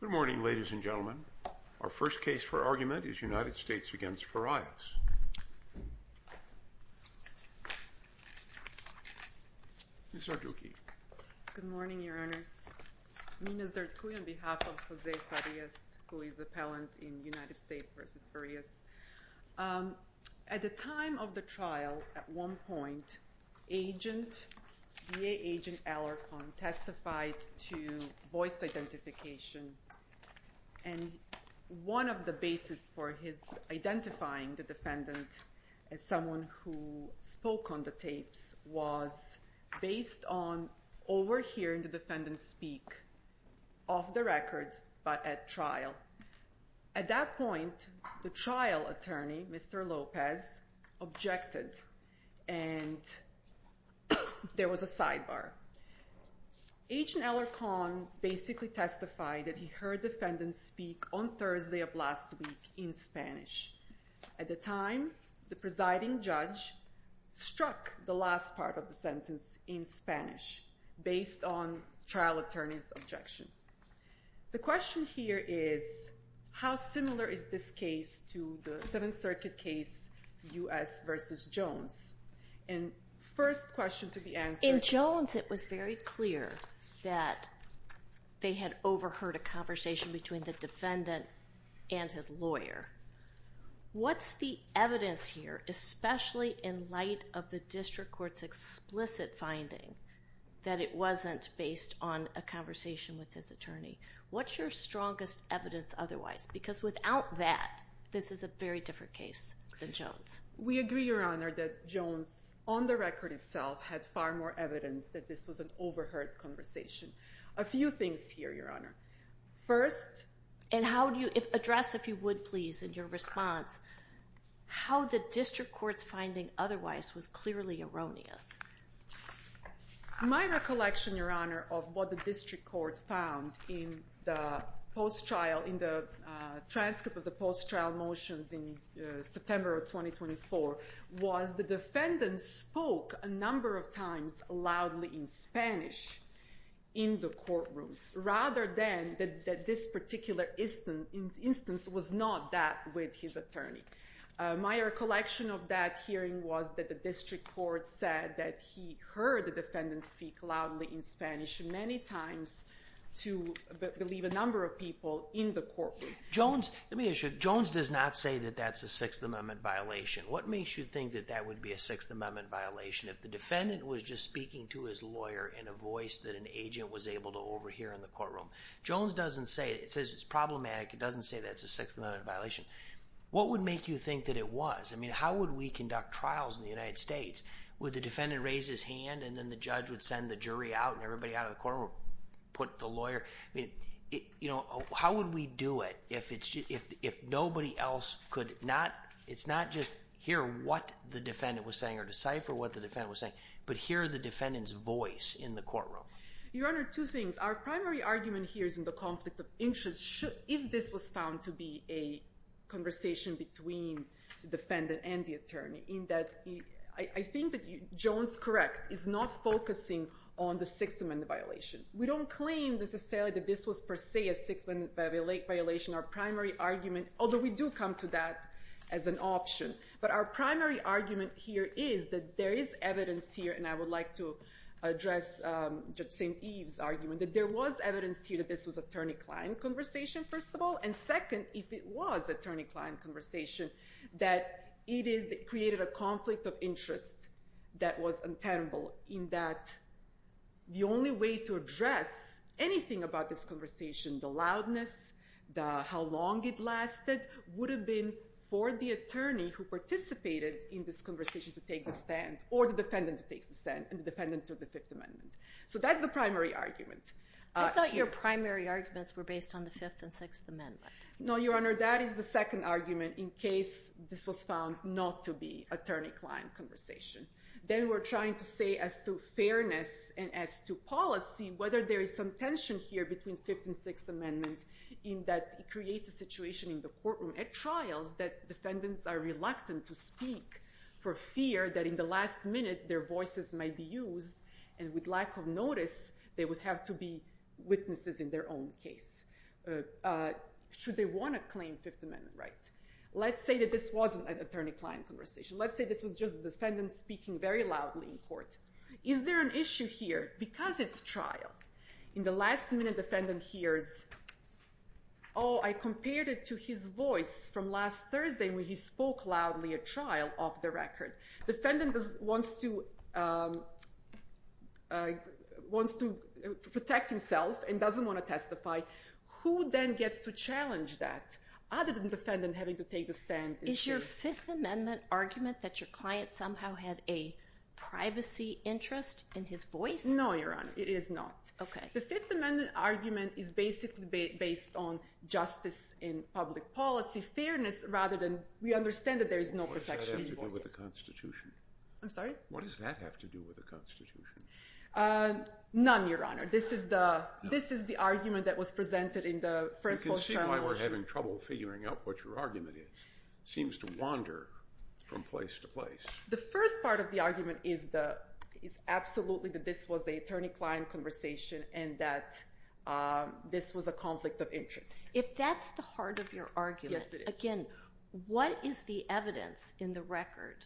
Good morning, ladies and gentlemen. Our first case for argument is United States v. Farias. Ms. Sardouki. Good morning, Your Honors. Nina Sardouki on behalf of Jose Farias, who is appellant in United States v. Farias. At the time of the trial, at one point, VA agent Alarcon testified to voice identification. And one of the basis for his identifying the defendant as someone who spoke on the tapes was based on overhearing the defendant speak off the record but at trial. At that point, the trial attorney, Mr. Lopez, objected and there was a sidebar. Agent Alarcon basically testified that he heard the defendant speak on Thursday of last week in Spanish. At the time, the presiding judge struck the last part of the sentence in Spanish based on trial attorney's objection. The question here is, how similar is this case to the Seventh Circuit case, U.S. v. Jones? In Jones, it was very clear that they had overheard a conversation between the defendant and his lawyer. What's the evidence here, especially in light of the district court's explicit finding that it wasn't based on a conversation with his attorney? What's your strongest evidence otherwise? Because without that, this is a very different case than Jones. We agree, Your Honor, that Jones, on the record itself, had far more evidence that this was an overheard conversation. A few things here, Your Honor. First... And address, if you would, please, in your response, how the district court's finding otherwise was clearly erroneous. My recollection, Your Honor, of what the district court found in the transcript of the post-trial motions in September of 2024 was the defendant spoke a number of times loudly in Spanish in the courtroom, rather than that this particular instance was not that with his attorney. My recollection of that hearing was that the district court said that he heard the defendant speak loudly in Spanish many times to, I believe, a number of people in the courtroom. Jones does not say that that's a Sixth Amendment violation. What makes you think that that would be a Sixth Amendment violation if the defendant was just speaking to his lawyer in a voice that an agent was able to overhear in the courtroom? Jones doesn't say it. It says it's problematic. It doesn't say that's a Sixth Amendment violation. What would make you think that it was? I mean, how would we conduct trials in the United States? Would the defendant raise his hand, and then the judge would send the jury out, and everybody out of the courtroom would put the lawyer? I mean, how would we do it if nobody else could not—it's not just hear what the defendant was saying or decipher what the defendant was saying, but hear the defendant's voice in the courtroom? Your Honor, two things. Our primary argument here is in the conflict of interest if this was found to be a conversation between the defendant and the attorney, in that I think that Jones, correct, is not focusing on the Sixth Amendment violation. We don't claim necessarily that this was per se a Sixth Amendment violation. Our primary argument—although we do come to that as an option. But our primary argument here is that there is evidence here, and I would like to address Judge St. Eve's argument, that there was evidence here that this was attorney-client conversation, first of all, and second, if it was attorney-client conversation, that it created a conflict of interest that was untenable, in that the only way to address anything about this conversation, the loudness, how long it lasted, would have been for the attorney who participated in this conversation to take the stand, or the defendant to take the stand, and the defendant took the Fifth Amendment. So that's the primary argument. I thought your primary arguments were based on the Fifth and Sixth Amendment. No, Your Honor, that is the second argument in case this was found not to be attorney-client conversation. Then we're trying to say as to fairness and as to policy, whether there is some tension here between Fifth and Sixth Amendment, in that it creates a situation in the courtroom at trials that defendants are reluctant to speak for fear that in the last minute their voices might be used, and with lack of notice, they would have to be witnesses in their own case. Should they want to claim Fifth Amendment rights? Let's say that this wasn't an attorney-client conversation. Let's say this was just a defendant speaking very loudly in court. Is there an issue here because it's trial? In the last minute, defendant hears, oh, I compared it to his voice from last Thursday when he spoke loudly at trial off the record. Defendant wants to protect himself and doesn't want to testify. Who then gets to challenge that other than defendant having to take the stand? Is your Fifth Amendment argument that your client somehow had a privacy interest in his voice? No, Your Honor. It is not. Okay. The Fifth Amendment argument is basically based on justice in public policy, fairness, rather than we understand that there is no protection in his voice. What does that have to do with the Constitution? I'm sorry? What does that have to do with the Constitution? None, Your Honor. This is the argument that was presented in the first post-trial. I don't see why we're having trouble figuring out what your argument is. It seems to wander from place to place. The first part of the argument is absolutely that this was an attorney-client conversation and that this was a conflict of interest. If that's the heart of your argument, again, what is the evidence in the record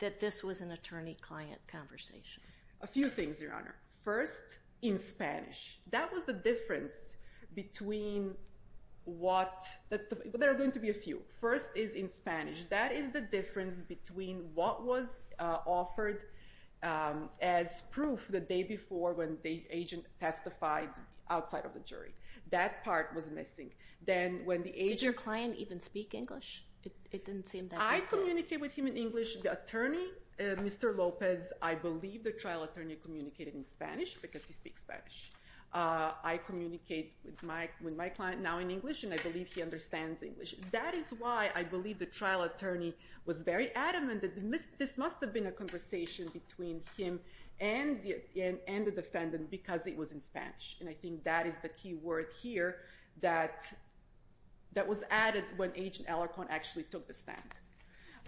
that this was an attorney-client conversation? A few things, Your Honor. First, in Spanish. That was the difference between what... There are going to be a few. First is in Spanish. That is the difference between what was offered as proof the day before when the agent testified outside of the jury. That part was missing. Did your client even speak English? I communicated with him in English. The attorney, Mr. Lopez, I believe the trial attorney communicated in Spanish because he speaks Spanish. I communicate with my client now in English, and I believe he understands English. That is why I believe the trial attorney was very adamant that this must have been a conversation between him and the defendant because it was in Spanish. And I think that is the key word here that was added when Agent Alarcon actually took the stand.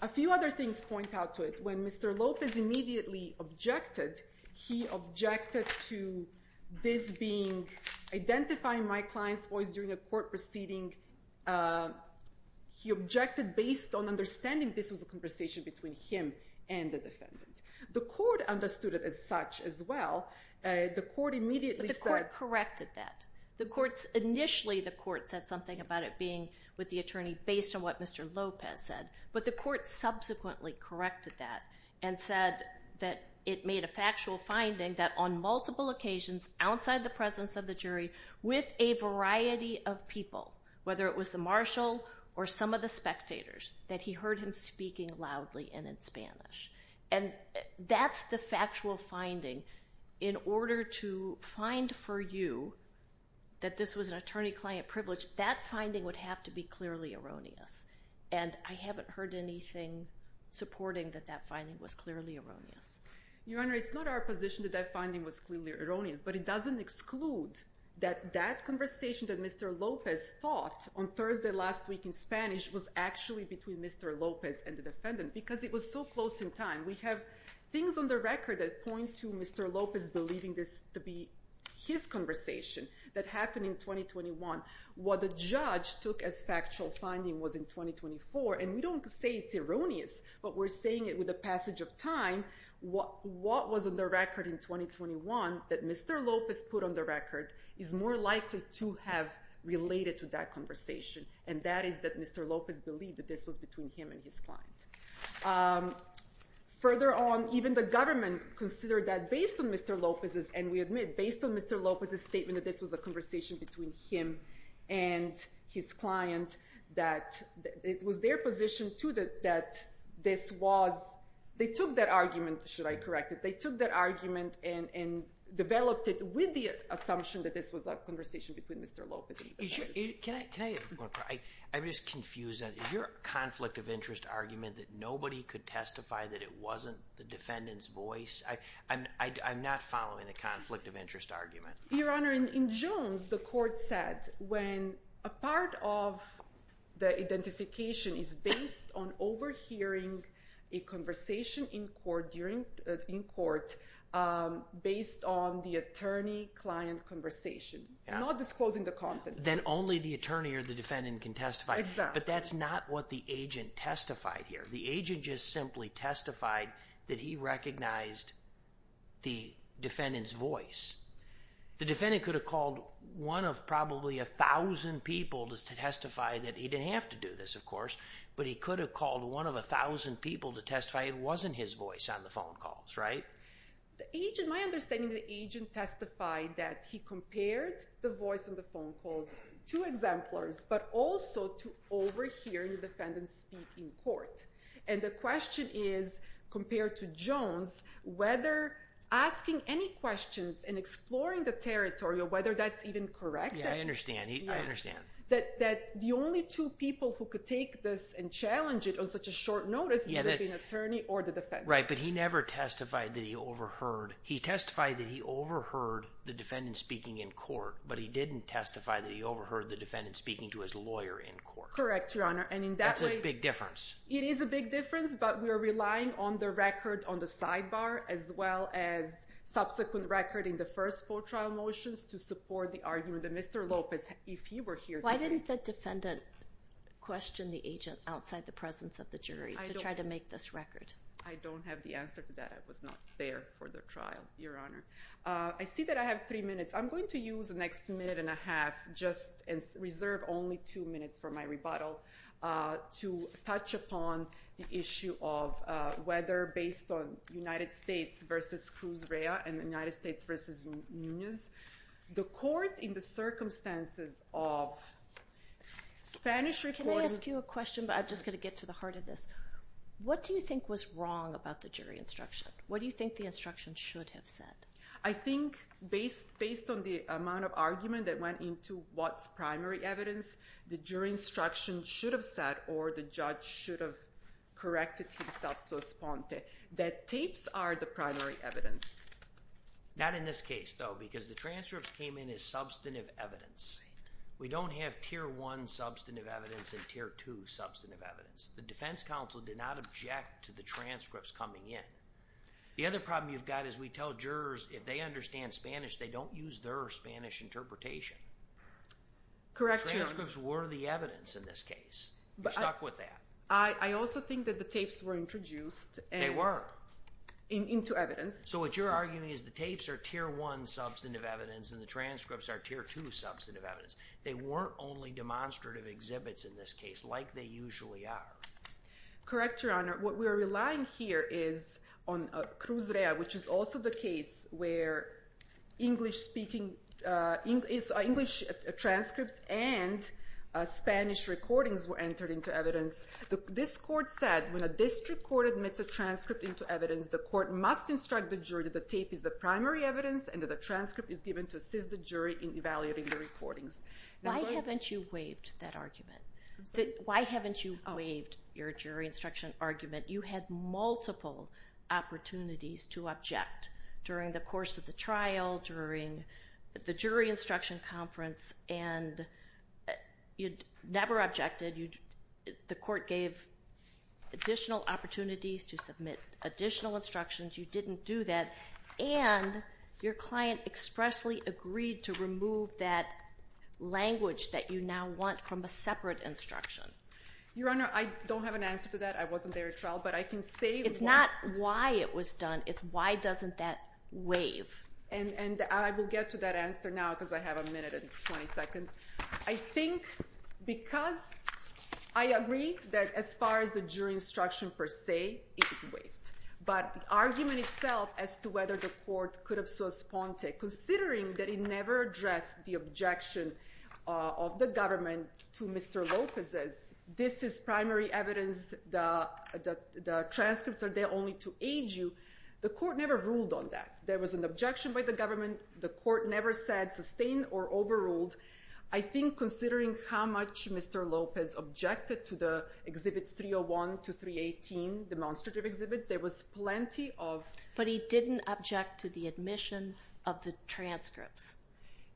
A few other things point out to it. When Mr. Lopez immediately objected, he objected to this being identifying my client's voice during a court proceeding. He objected based on understanding this was a conversation between him and the defendant. The court understood it as such as well. The court immediately said... But the court corrected that. Initially the court said something about it being with the attorney based on what Mr. Lopez said. But the court subsequently corrected that and said that it made a factual finding that on multiple occasions outside the presence of the jury with a variety of people, whether it was the marshal or some of the spectators, that he heard him speaking loudly and in Spanish. And that's the factual finding. In order to find for you that this was an attorney-client privilege, that finding would have to be clearly erroneous. And I haven't heard anything supporting that that finding was clearly erroneous. Your Honor, it's not our position that that finding was clearly erroneous, but it doesn't exclude that that conversation that Mr. Lopez thought on Thursday last week in Spanish was actually between Mr. Lopez and the defendant because it was so close in time. We have things on the record that point to Mr. Lopez believing this to be his conversation that happened in 2021. What the judge took as factual finding was in 2024. And we don't say it's erroneous, but we're saying it with the passage of time. What was on the record in 2021 that Mr. Lopez put on the record is more likely to have related to that conversation, and that is that Mr. Lopez believed that this was between him and his clients. Further on, even the government considered that based on Mr. Lopez's And we admit, based on Mr. Lopez's statement that this was a conversation between him and his client, that it was their position, too, that this was they took that argument, should I correct it, they took that argument and developed it with the assumption that this was a conversation between Mr. Lopez and the defendant. Can I have one more? I'm just confused. Is your conflict of interest argument that nobody could testify that it wasn't the defendant's voice? I'm not following the conflict of interest argument. Your Honor, in Jones, the court said when a part of the identification is based on overhearing a conversation in court based on the attorney-client conversation, not disclosing the content. Then only the attorney or the defendant can testify. Exactly. But that's not what the agent testified here. The agent just simply testified that he recognized the defendant's voice. The defendant could have called one of probably a thousand people to testify that he didn't have to do this, of course, but he could have called one of a thousand people to testify it wasn't his voice on the phone calls, right? My understanding is the agent testified that he compared the voice on the phone calls to exemplars, but also to overhearing the defendant speak in court. And the question is, compared to Jones, whether asking any questions and exploring the territory or whether that's even correct. Yeah, I understand. I understand. That the only two people who could take this and challenge it on such a short notice would have been attorney or the defendant. Right, but he never testified that he overheard. He testified that he overheard the defendant speaking in court, but he didn't testify that he overheard the defendant speaking to his lawyer in court. Correct, Your Honor. That's a big difference. It is a big difference, but we're relying on the record on the sidebar as well as subsequent record in the first four trial motions to support the argument that Mr. Lopez, if he were here today— Why didn't the defendant question the agent outside the presence of the jury to try to make this record? I don't have the answer to that. I was not there for the trial, Your Honor. I see that I have three minutes. I'm going to use the next minute and a half and reserve only two minutes for my rebuttal to touch upon the issue of whether, based on United States v. Cruz Rea and United States v. Nunez, the court in the circumstances of Spanish reporting— Can I ask you a question, but I'm just going to get to the heart of this? What do you think was wrong about the jury instruction? What do you think the instruction should have said? I think, based on the amount of argument that went into what's primary evidence, the jury instruction should have said, or the judge should have corrected himself so sponte, that tapes are the primary evidence. Not in this case, though, because the transcripts came in as substantive evidence. We don't have Tier 1 substantive evidence and Tier 2 substantive evidence. The defense counsel did not object to the transcripts coming in. The other problem you've got is we tell jurors if they understand Spanish, they don't use their Spanish interpretation. Correct, Your Honor. The transcripts were the evidence in this case. You're stuck with that. I also think that the tapes were introduced— They were. —into evidence. So what you're arguing is the tapes are Tier 1 substantive evidence and the transcripts are Tier 2 substantive evidence. They weren't only demonstrative exhibits in this case, like they usually are. Correct, Your Honor. What we're relying here is on Cruz Rea, which is also the case where English transcripts and Spanish recordings were entered into evidence. This court said when a district court admits a transcript into evidence, the court must instruct the jury that the tape is the primary evidence and that the transcript is given to assist the jury in evaluating the recordings. Why haven't you waived that argument? Why haven't you waived your jury instruction argument? You had multiple opportunities to object during the course of the trial, during the jury instruction conference, and you never objected. The court gave additional opportunities to submit additional instructions. You didn't do that. And your client expressly agreed to remove that language that you now want from a separate instruction. Your Honor, I don't have an answer to that. I wasn't there at trial, but I can say— It's not why it was done. It's why doesn't that waive. And I will get to that answer now because I have a minute and 20 seconds. I think because I agree that as far as the jury instruction per se, it's waived. But the argument itself as to whether the court could have so sponte, considering that it never addressed the objection of the government to Mr. Lopez's, this is primary evidence, the transcripts are there only to aid you, the court never ruled on that. There was an objection by the government. The court never said sustain or overruled. I think considering how much Mr. Lopez objected to the exhibits 301 to 318, demonstrative exhibits, there was plenty of— But he didn't object to the admission of the transcripts.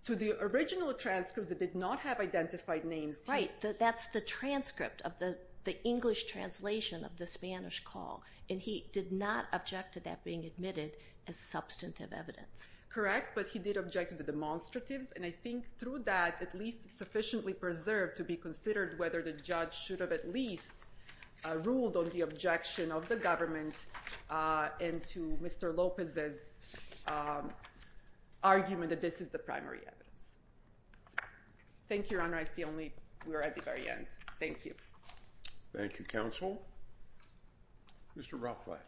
To the original transcripts that did not have identified names. Right. That's the transcript of the English translation of the Spanish call, and he did not object to that being admitted as substantive evidence. Correct, but he did object to the demonstratives, and I think through that at least it's sufficiently preserved to be considered whether the judge should have at least ruled on the objection of the government into Mr. Lopez's argument that this is the primary evidence. Thank you, Your Honor. I see we're at the very end. Thank you. Thank you, counsel. Mr. Rothblatt.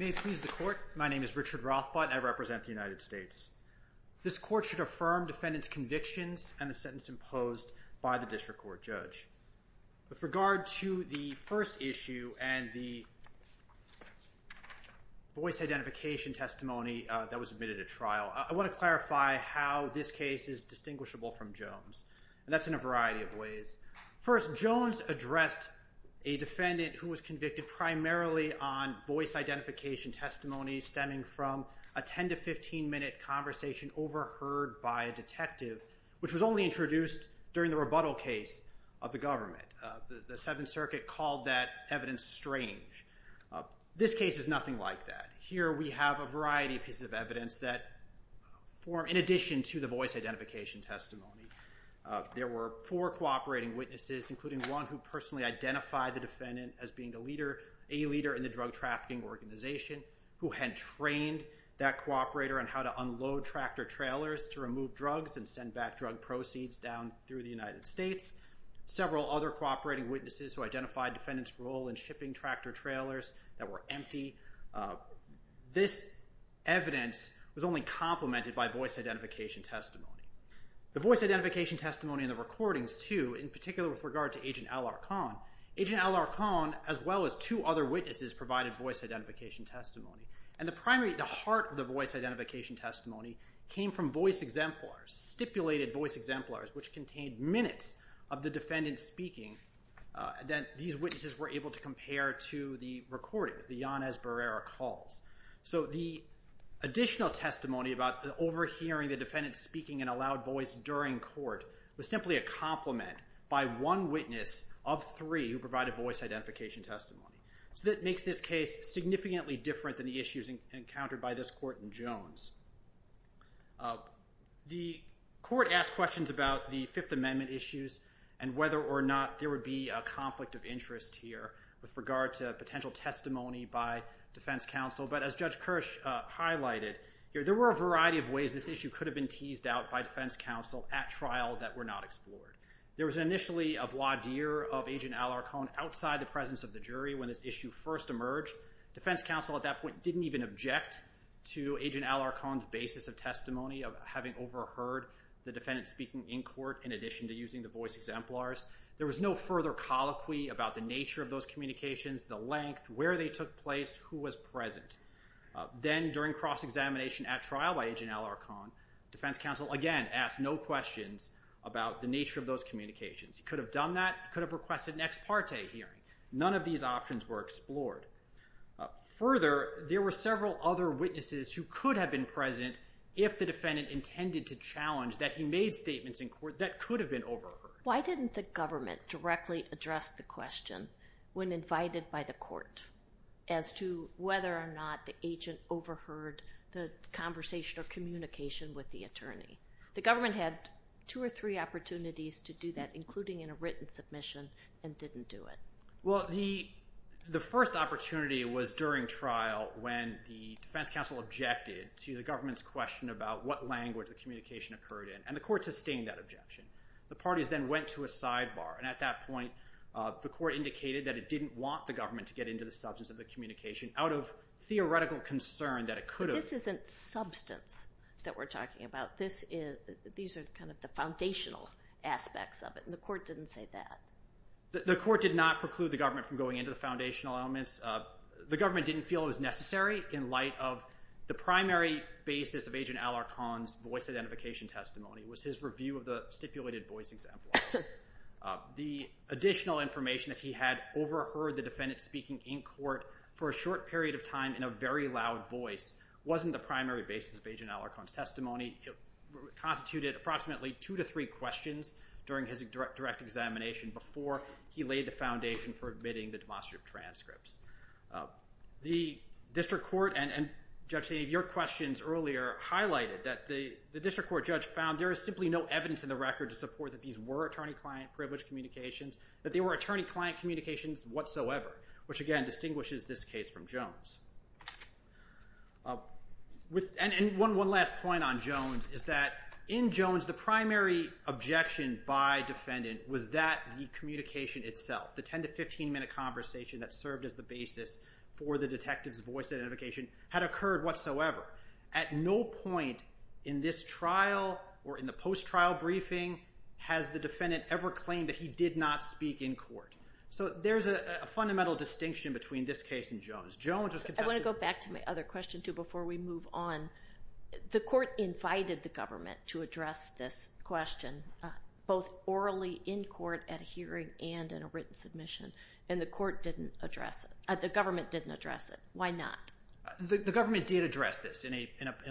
May it please the Court. My name is Richard Rothblatt, and I represent the United States. This court should affirm defendant's convictions and the sentence imposed by the district court judge. With regard to the first issue and the voice identification testimony that was admitted at trial, I want to clarify how this case is distinguishable from Jones, and that's in a variety of ways. First, Jones addressed a defendant who was convicted primarily on voice identification testimony stemming from a 10- to 15-minute conversation overheard by a detective, which was only introduced during the rebuttal case of the government. The Seventh Circuit called that evidence strange. This case is nothing like that. Here we have a variety of pieces of evidence that form in addition to the voice identification testimony. There were four cooperating witnesses, including one who personally identified the defendant as being a leader in the drug trafficking organization, who had trained that cooperator on how to unload tractor-trailers to remove drugs and send back drug proceeds down through the United States. Several other cooperating witnesses who identified defendant's role in shipping tractor-trailers that were empty. This evidence was only complemented by voice identification testimony. The voice identification testimony in the recordings, too, in particular with regard to Agent Alarcon, Agent Alarcon, as well as two other witnesses, provided voice identification testimony. The heart of the voice identification testimony came from voice exemplars, stipulated voice exemplars, which contained minutes of the defendant speaking that these witnesses were able to compare to the recordings, the Yanez Barrera calls. So the additional testimony about overhearing the defendant speaking in a loud voice during court was simply a complement by one witness of three who provided voice identification testimony. So that makes this case significantly different than the issues encountered by this court in Jones. The court asked questions about the Fifth Amendment issues and whether or not there would be a conflict of interest here with regard to potential testimony by defense counsel. But as Judge Kirsch highlighted, there were a variety of ways this issue could have been teased out by defense counsel at trial that were not explored. There was initially a voir dire of Agent Alarcon outside the presence of the jury when this issue first emerged. Defense counsel at that point didn't even object to Agent Alarcon's basis of testimony of having overheard the defendant speaking in court in addition to using the voice exemplars. There was no further colloquy about the nature of those communications, the length, where they took place, who was present. Then during cross-examination at trial by Agent Alarcon, defense counsel again asked no questions about the nature of those communications. He could have done that. He could have requested an ex parte hearing. None of these options were explored. Further, there were several other witnesses who could have been present if the defendant intended to challenge that he made statements in court that could have been overheard. Why didn't the government directly address the question when invited by the court as to whether or not the agent overheard the conversation or communication with the attorney? The government had two or three opportunities to do that, including in a written submission, and didn't do it. Well, the first opportunity was during trial when the defense counsel objected to the government's question about what language the communication occurred in, and the court sustained that objection. The parties then went to a sidebar, and at that point the court indicated that it didn't want the government to get into the substance of the communication out of theoretical concern that it could have. But this isn't substance that we're talking about. These are kind of the foundational aspects of it, and the court didn't say that. The court did not preclude the government from going into the foundational elements. The government didn't feel it was necessary in light of the primary basis of Agent Alarcon's voice identification testimony was his review of the stipulated voice example. The additional information that he had overheard the defendant speaking in court for a short period of time in a very loud voice wasn't the primary basis of Agent Alarcon's testimony. It constituted approximately two to three questions during his direct examination before he laid the foundation for admitting the demonstrative transcripts. The District Court, and Judge Sainte, your questions earlier highlighted that the District Court judge found there is simply no evidence in the record to support that these were attorney-client privileged communications, that they were attorney-client communications whatsoever, which again distinguishes this case from Jones. And one last point on Jones is that in Jones the primary objection by defendant was that the communication itself, the 10 to 15 minute conversation that served as the basis for the detective's voice identification, had occurred whatsoever. At no point in this trial or in the post-trial briefing has the defendant ever claimed that he did not speak in court. So there's a fundamental distinction between this case and Jones. I want to go back to my other question too before we move on. The court invited the government to address this question, both orally in court at a hearing and in a written submission, and the government didn't address it. Why not? The government did address this in a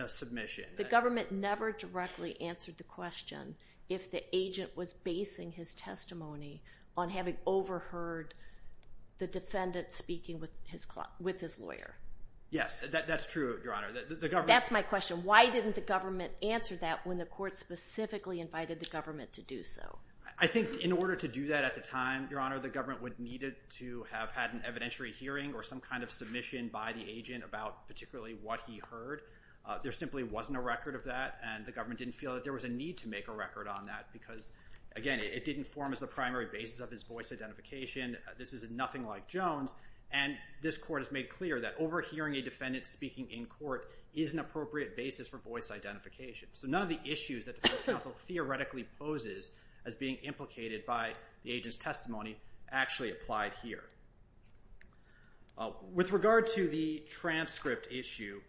submission. The government never directly answered the question if the agent was basing his testimony on having overheard the defendant speaking with his lawyer. Yes, that's true, Your Honor. That's my question. Why didn't the government answer that when the court specifically invited the government to do so? I think in order to do that at the time, Your Honor, the government would need to have had an evidentiary hearing or some kind of submission by the agent about particularly what he heard. There simply wasn't a record of that, and the government didn't feel that there was a need to make a record on that because, again, it didn't form as the primary basis of his voice identification. This is nothing like Jones, and this court has made clear that overhearing a defendant speaking in court is an appropriate basis for voice identification. So none of the issues that the defense counsel theoretically poses as being implicated by the agent's testimony actually applied here. With regard to the transcript issue,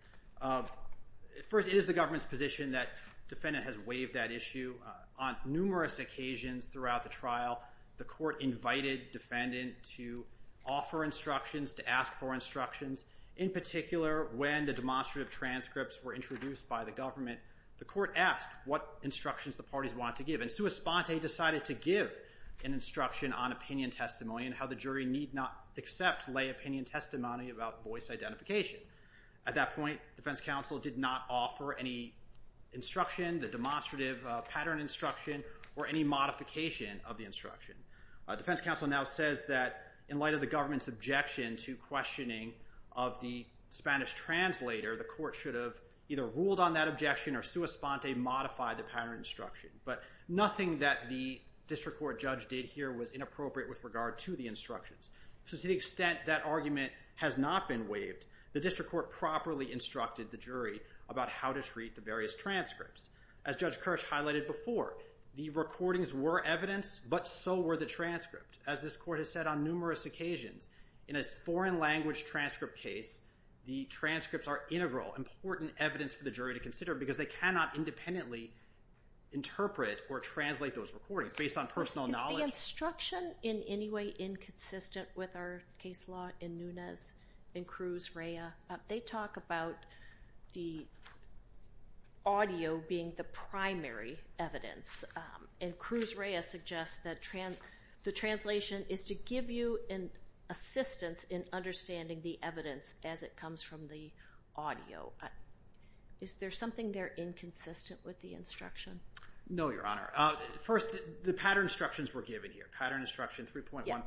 first, it is the government's position that the defendant has waived that issue. On numerous occasions throughout the trial, the court invited the defendant to offer instructions, to ask for instructions. In particular, when the demonstrative transcripts were introduced by the government, the court asked what instructions the parties wanted to give. And Sua Sponte decided to give an instruction on opinion testimony and how the jury need not accept lay opinion testimony about voice identification. At that point, defense counsel did not offer any instruction, the demonstrative pattern instruction, or any modification of the instruction. Defense counsel now says that in light of the government's objection to questioning of the Spanish translator, the court should have either ruled on that objection or Sua Sponte modified the pattern instruction. But nothing that the district court judge did here was inappropriate with regard to the instructions. So to the extent that argument has not been waived, the district court properly instructed the jury about how to treat the various transcripts. As Judge Kirsch highlighted before, the recordings were evidence, but so were the transcripts. As this court has said on numerous occasions, in a foreign language transcript case, the transcripts are integral, important evidence for the jury to consider, because they cannot independently interpret or translate those recordings based on personal knowledge. Is the instruction in any way inconsistent with our case law in Nunez and Cruz-Reya? They talk about the audio being the primary evidence, and Cruz-Reya suggests that the translation is to give you an assistance in understanding the evidence as it comes from the audio. Is there something there inconsistent with the instruction? No, Your Honor. First, the pattern instructions were given here, pattern instruction 3.15,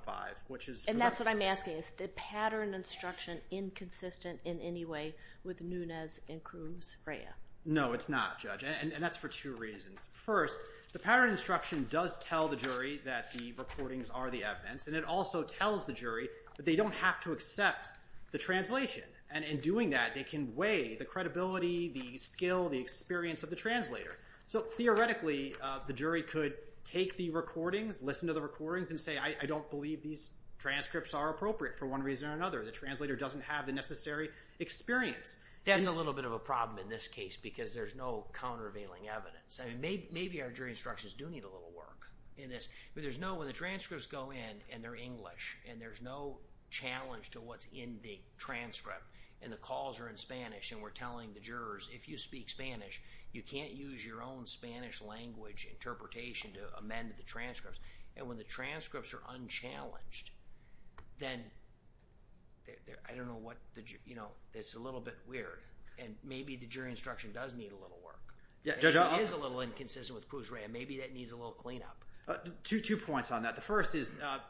which is And that's what I'm asking. Is the pattern instruction inconsistent in any way with Nunez and Cruz-Reya? No, it's not, Judge, and that's for two reasons. First, the pattern instruction does tell the jury that the recordings are the evidence, and it also tells the jury that they don't have to accept the translation. And in doing that, they can weigh the credibility, the skill, the experience of the translator. So theoretically, the jury could take the recordings, listen to the recordings, and say, I don't believe these transcripts are appropriate for one reason or another. The translator doesn't have the necessary experience. That's a little bit of a problem in this case because there's no countervailing evidence. Maybe our jury instructions do need a little work in this, but when the transcripts go in and they're English, and there's no challenge to what's in the transcript, and the calls are in Spanish, and we're telling the jurors, if you speak Spanish, you can't use your own Spanish language interpretation to amend the transcripts. And when the transcripts are unchallenged, then I don't know what the jury, you know, it's a little bit weird, and maybe the jury instruction does need a little work. It is a little inconsistent with Cruz-Rey, and maybe that needs a little cleanup. Two points on that. The first is,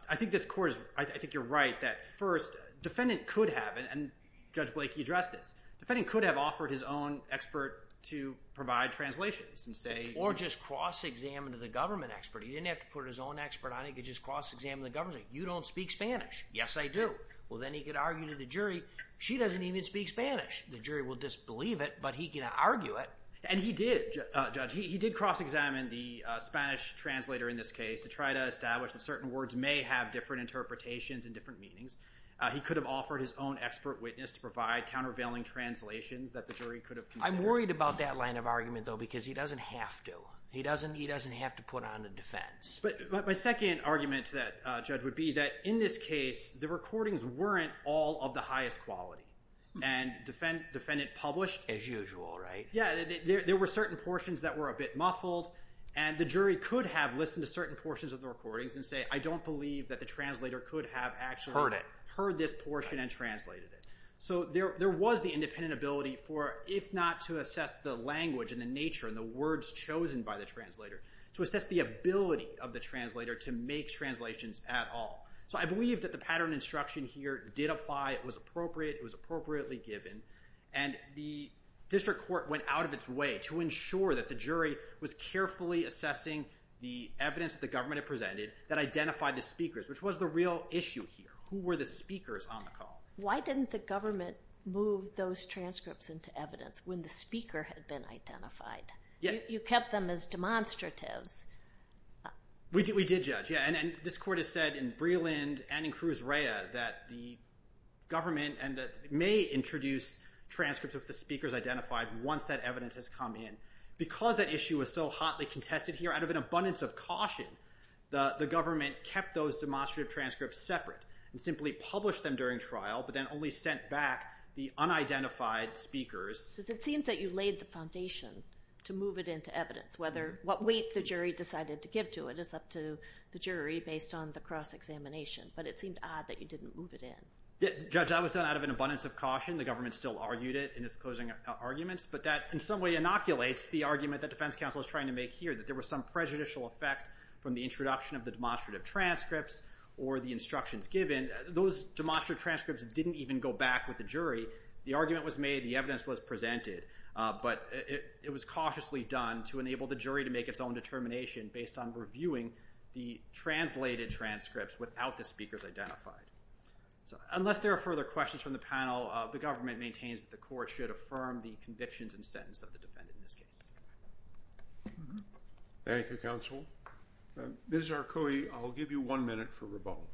I think this court is, I think you're right that first, defendant could have, and Judge Blakey addressed this, defendant could have offered his own expert to provide translations and say... Or just cross-examine to the government expert. He didn't have to put his own expert on it. He could just cross-examine the government. You don't speak Spanish. Yes, I do. Well, then he could argue to the jury, she doesn't even speak Spanish. The jury will disbelieve it, but he can argue it. And he did, Judge. He did cross-examine the Spanish translator in this case to try to establish that certain words may have different interpretations and different meanings. He could have offered his own expert witness to provide countervailing translations that the jury could have considered. I'm worried about that line of argument, though, because he doesn't have to. He doesn't have to put on a defense. But my second argument to that, Judge, would be that in this case, the recordings weren't all of the highest quality. And defendant published... As usual, right? Yeah, there were certain portions that were a bit muffled, and the jury could have listened to certain portions of the recordings and say, I don't believe that the translator could have actually... Heard it. Heard this portion and translated it. So there was the independent ability for, if not to assess the language and the nature and the words chosen by the translator, to assess the ability of the translator to make translations at all. So I believe that the pattern instruction here did apply. It was appropriate. It was appropriately given. And the district court went out of its way to ensure that the jury was carefully assessing the evidence that the government had presented that identified the speakers, which was the real issue here. Who were the speakers on the call? Why didn't the government move those transcripts into evidence when the speaker had been identified? You kept them as demonstratives. We did, Judge, yeah. And this court has said in Breland and in Cruz Reya that the government may introduce transcripts of the speakers identified once that evidence has come in. Because that issue was so hotly contested here, out of an abundance of caution, the government kept those demonstrative transcripts separate and simply published them during trial but then only sent back the unidentified speakers. Because it seems that you laid the foundation to move it into evidence, whether what weight the jury decided to give to it is up to the jury based on the cross-examination. But it seemed odd that you didn't move it in. Judge, that was done out of an abundance of caution. The government still argued it in its closing arguments. But that in some way inoculates the argument that defense counsel is trying to make here, that there was some prejudicial effect from the introduction of the demonstrative transcripts or the instructions given. Those demonstrative transcripts didn't even go back with the jury. The argument was made. The evidence was presented. But it was cautiously done to enable the jury to make its own determination based on reviewing the translated transcripts without the speakers identified. Unless there are further questions from the panel, the government maintains that the court should affirm the convictions and sentence of the defendant in this case. Thank you, counsel. Ms. Zarcoe, I'll give you one minute for rebuttal.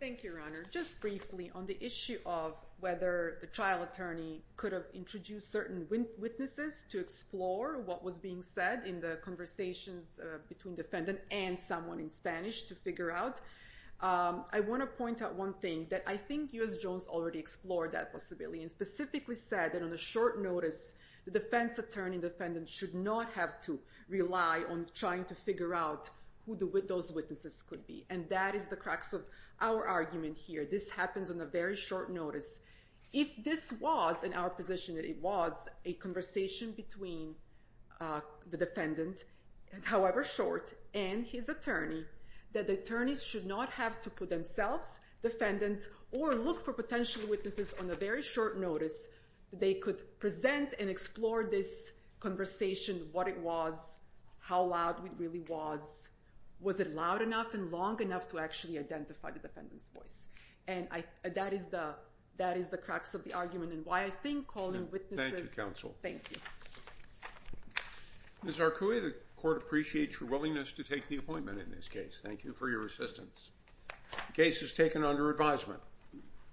Thank you, Your Honor. Just briefly on the issue of whether the trial attorney could have introduced certain witnesses to explore what was being said in the conversations between defendant and someone in Spanish to figure out, I want to point out one thing, that I think U.S. Jones already explored that possibility and specifically said that on a short notice the defense attorney and defendant should not have to rely on trying to figure out who those witnesses could be. And that is the crux of our argument here. This happens on a very short notice. If this was in our position that it was a conversation between the defendant, however short, and his attorney, that the attorneys should not have to put themselves, defendants, or look for potential witnesses on a very short notice that they could present and explore this conversation, what it was, how loud it really was, was it loud enough and long enough to actually identify the defendant's voice. And that is the crux of the argument and why I think calling witnesses... Thank you, counsel. Thank you. Ms. Zarcoe, the court appreciates your willingness to take the appointment in this case. Thank you for your assistance. The case is taken under advisement.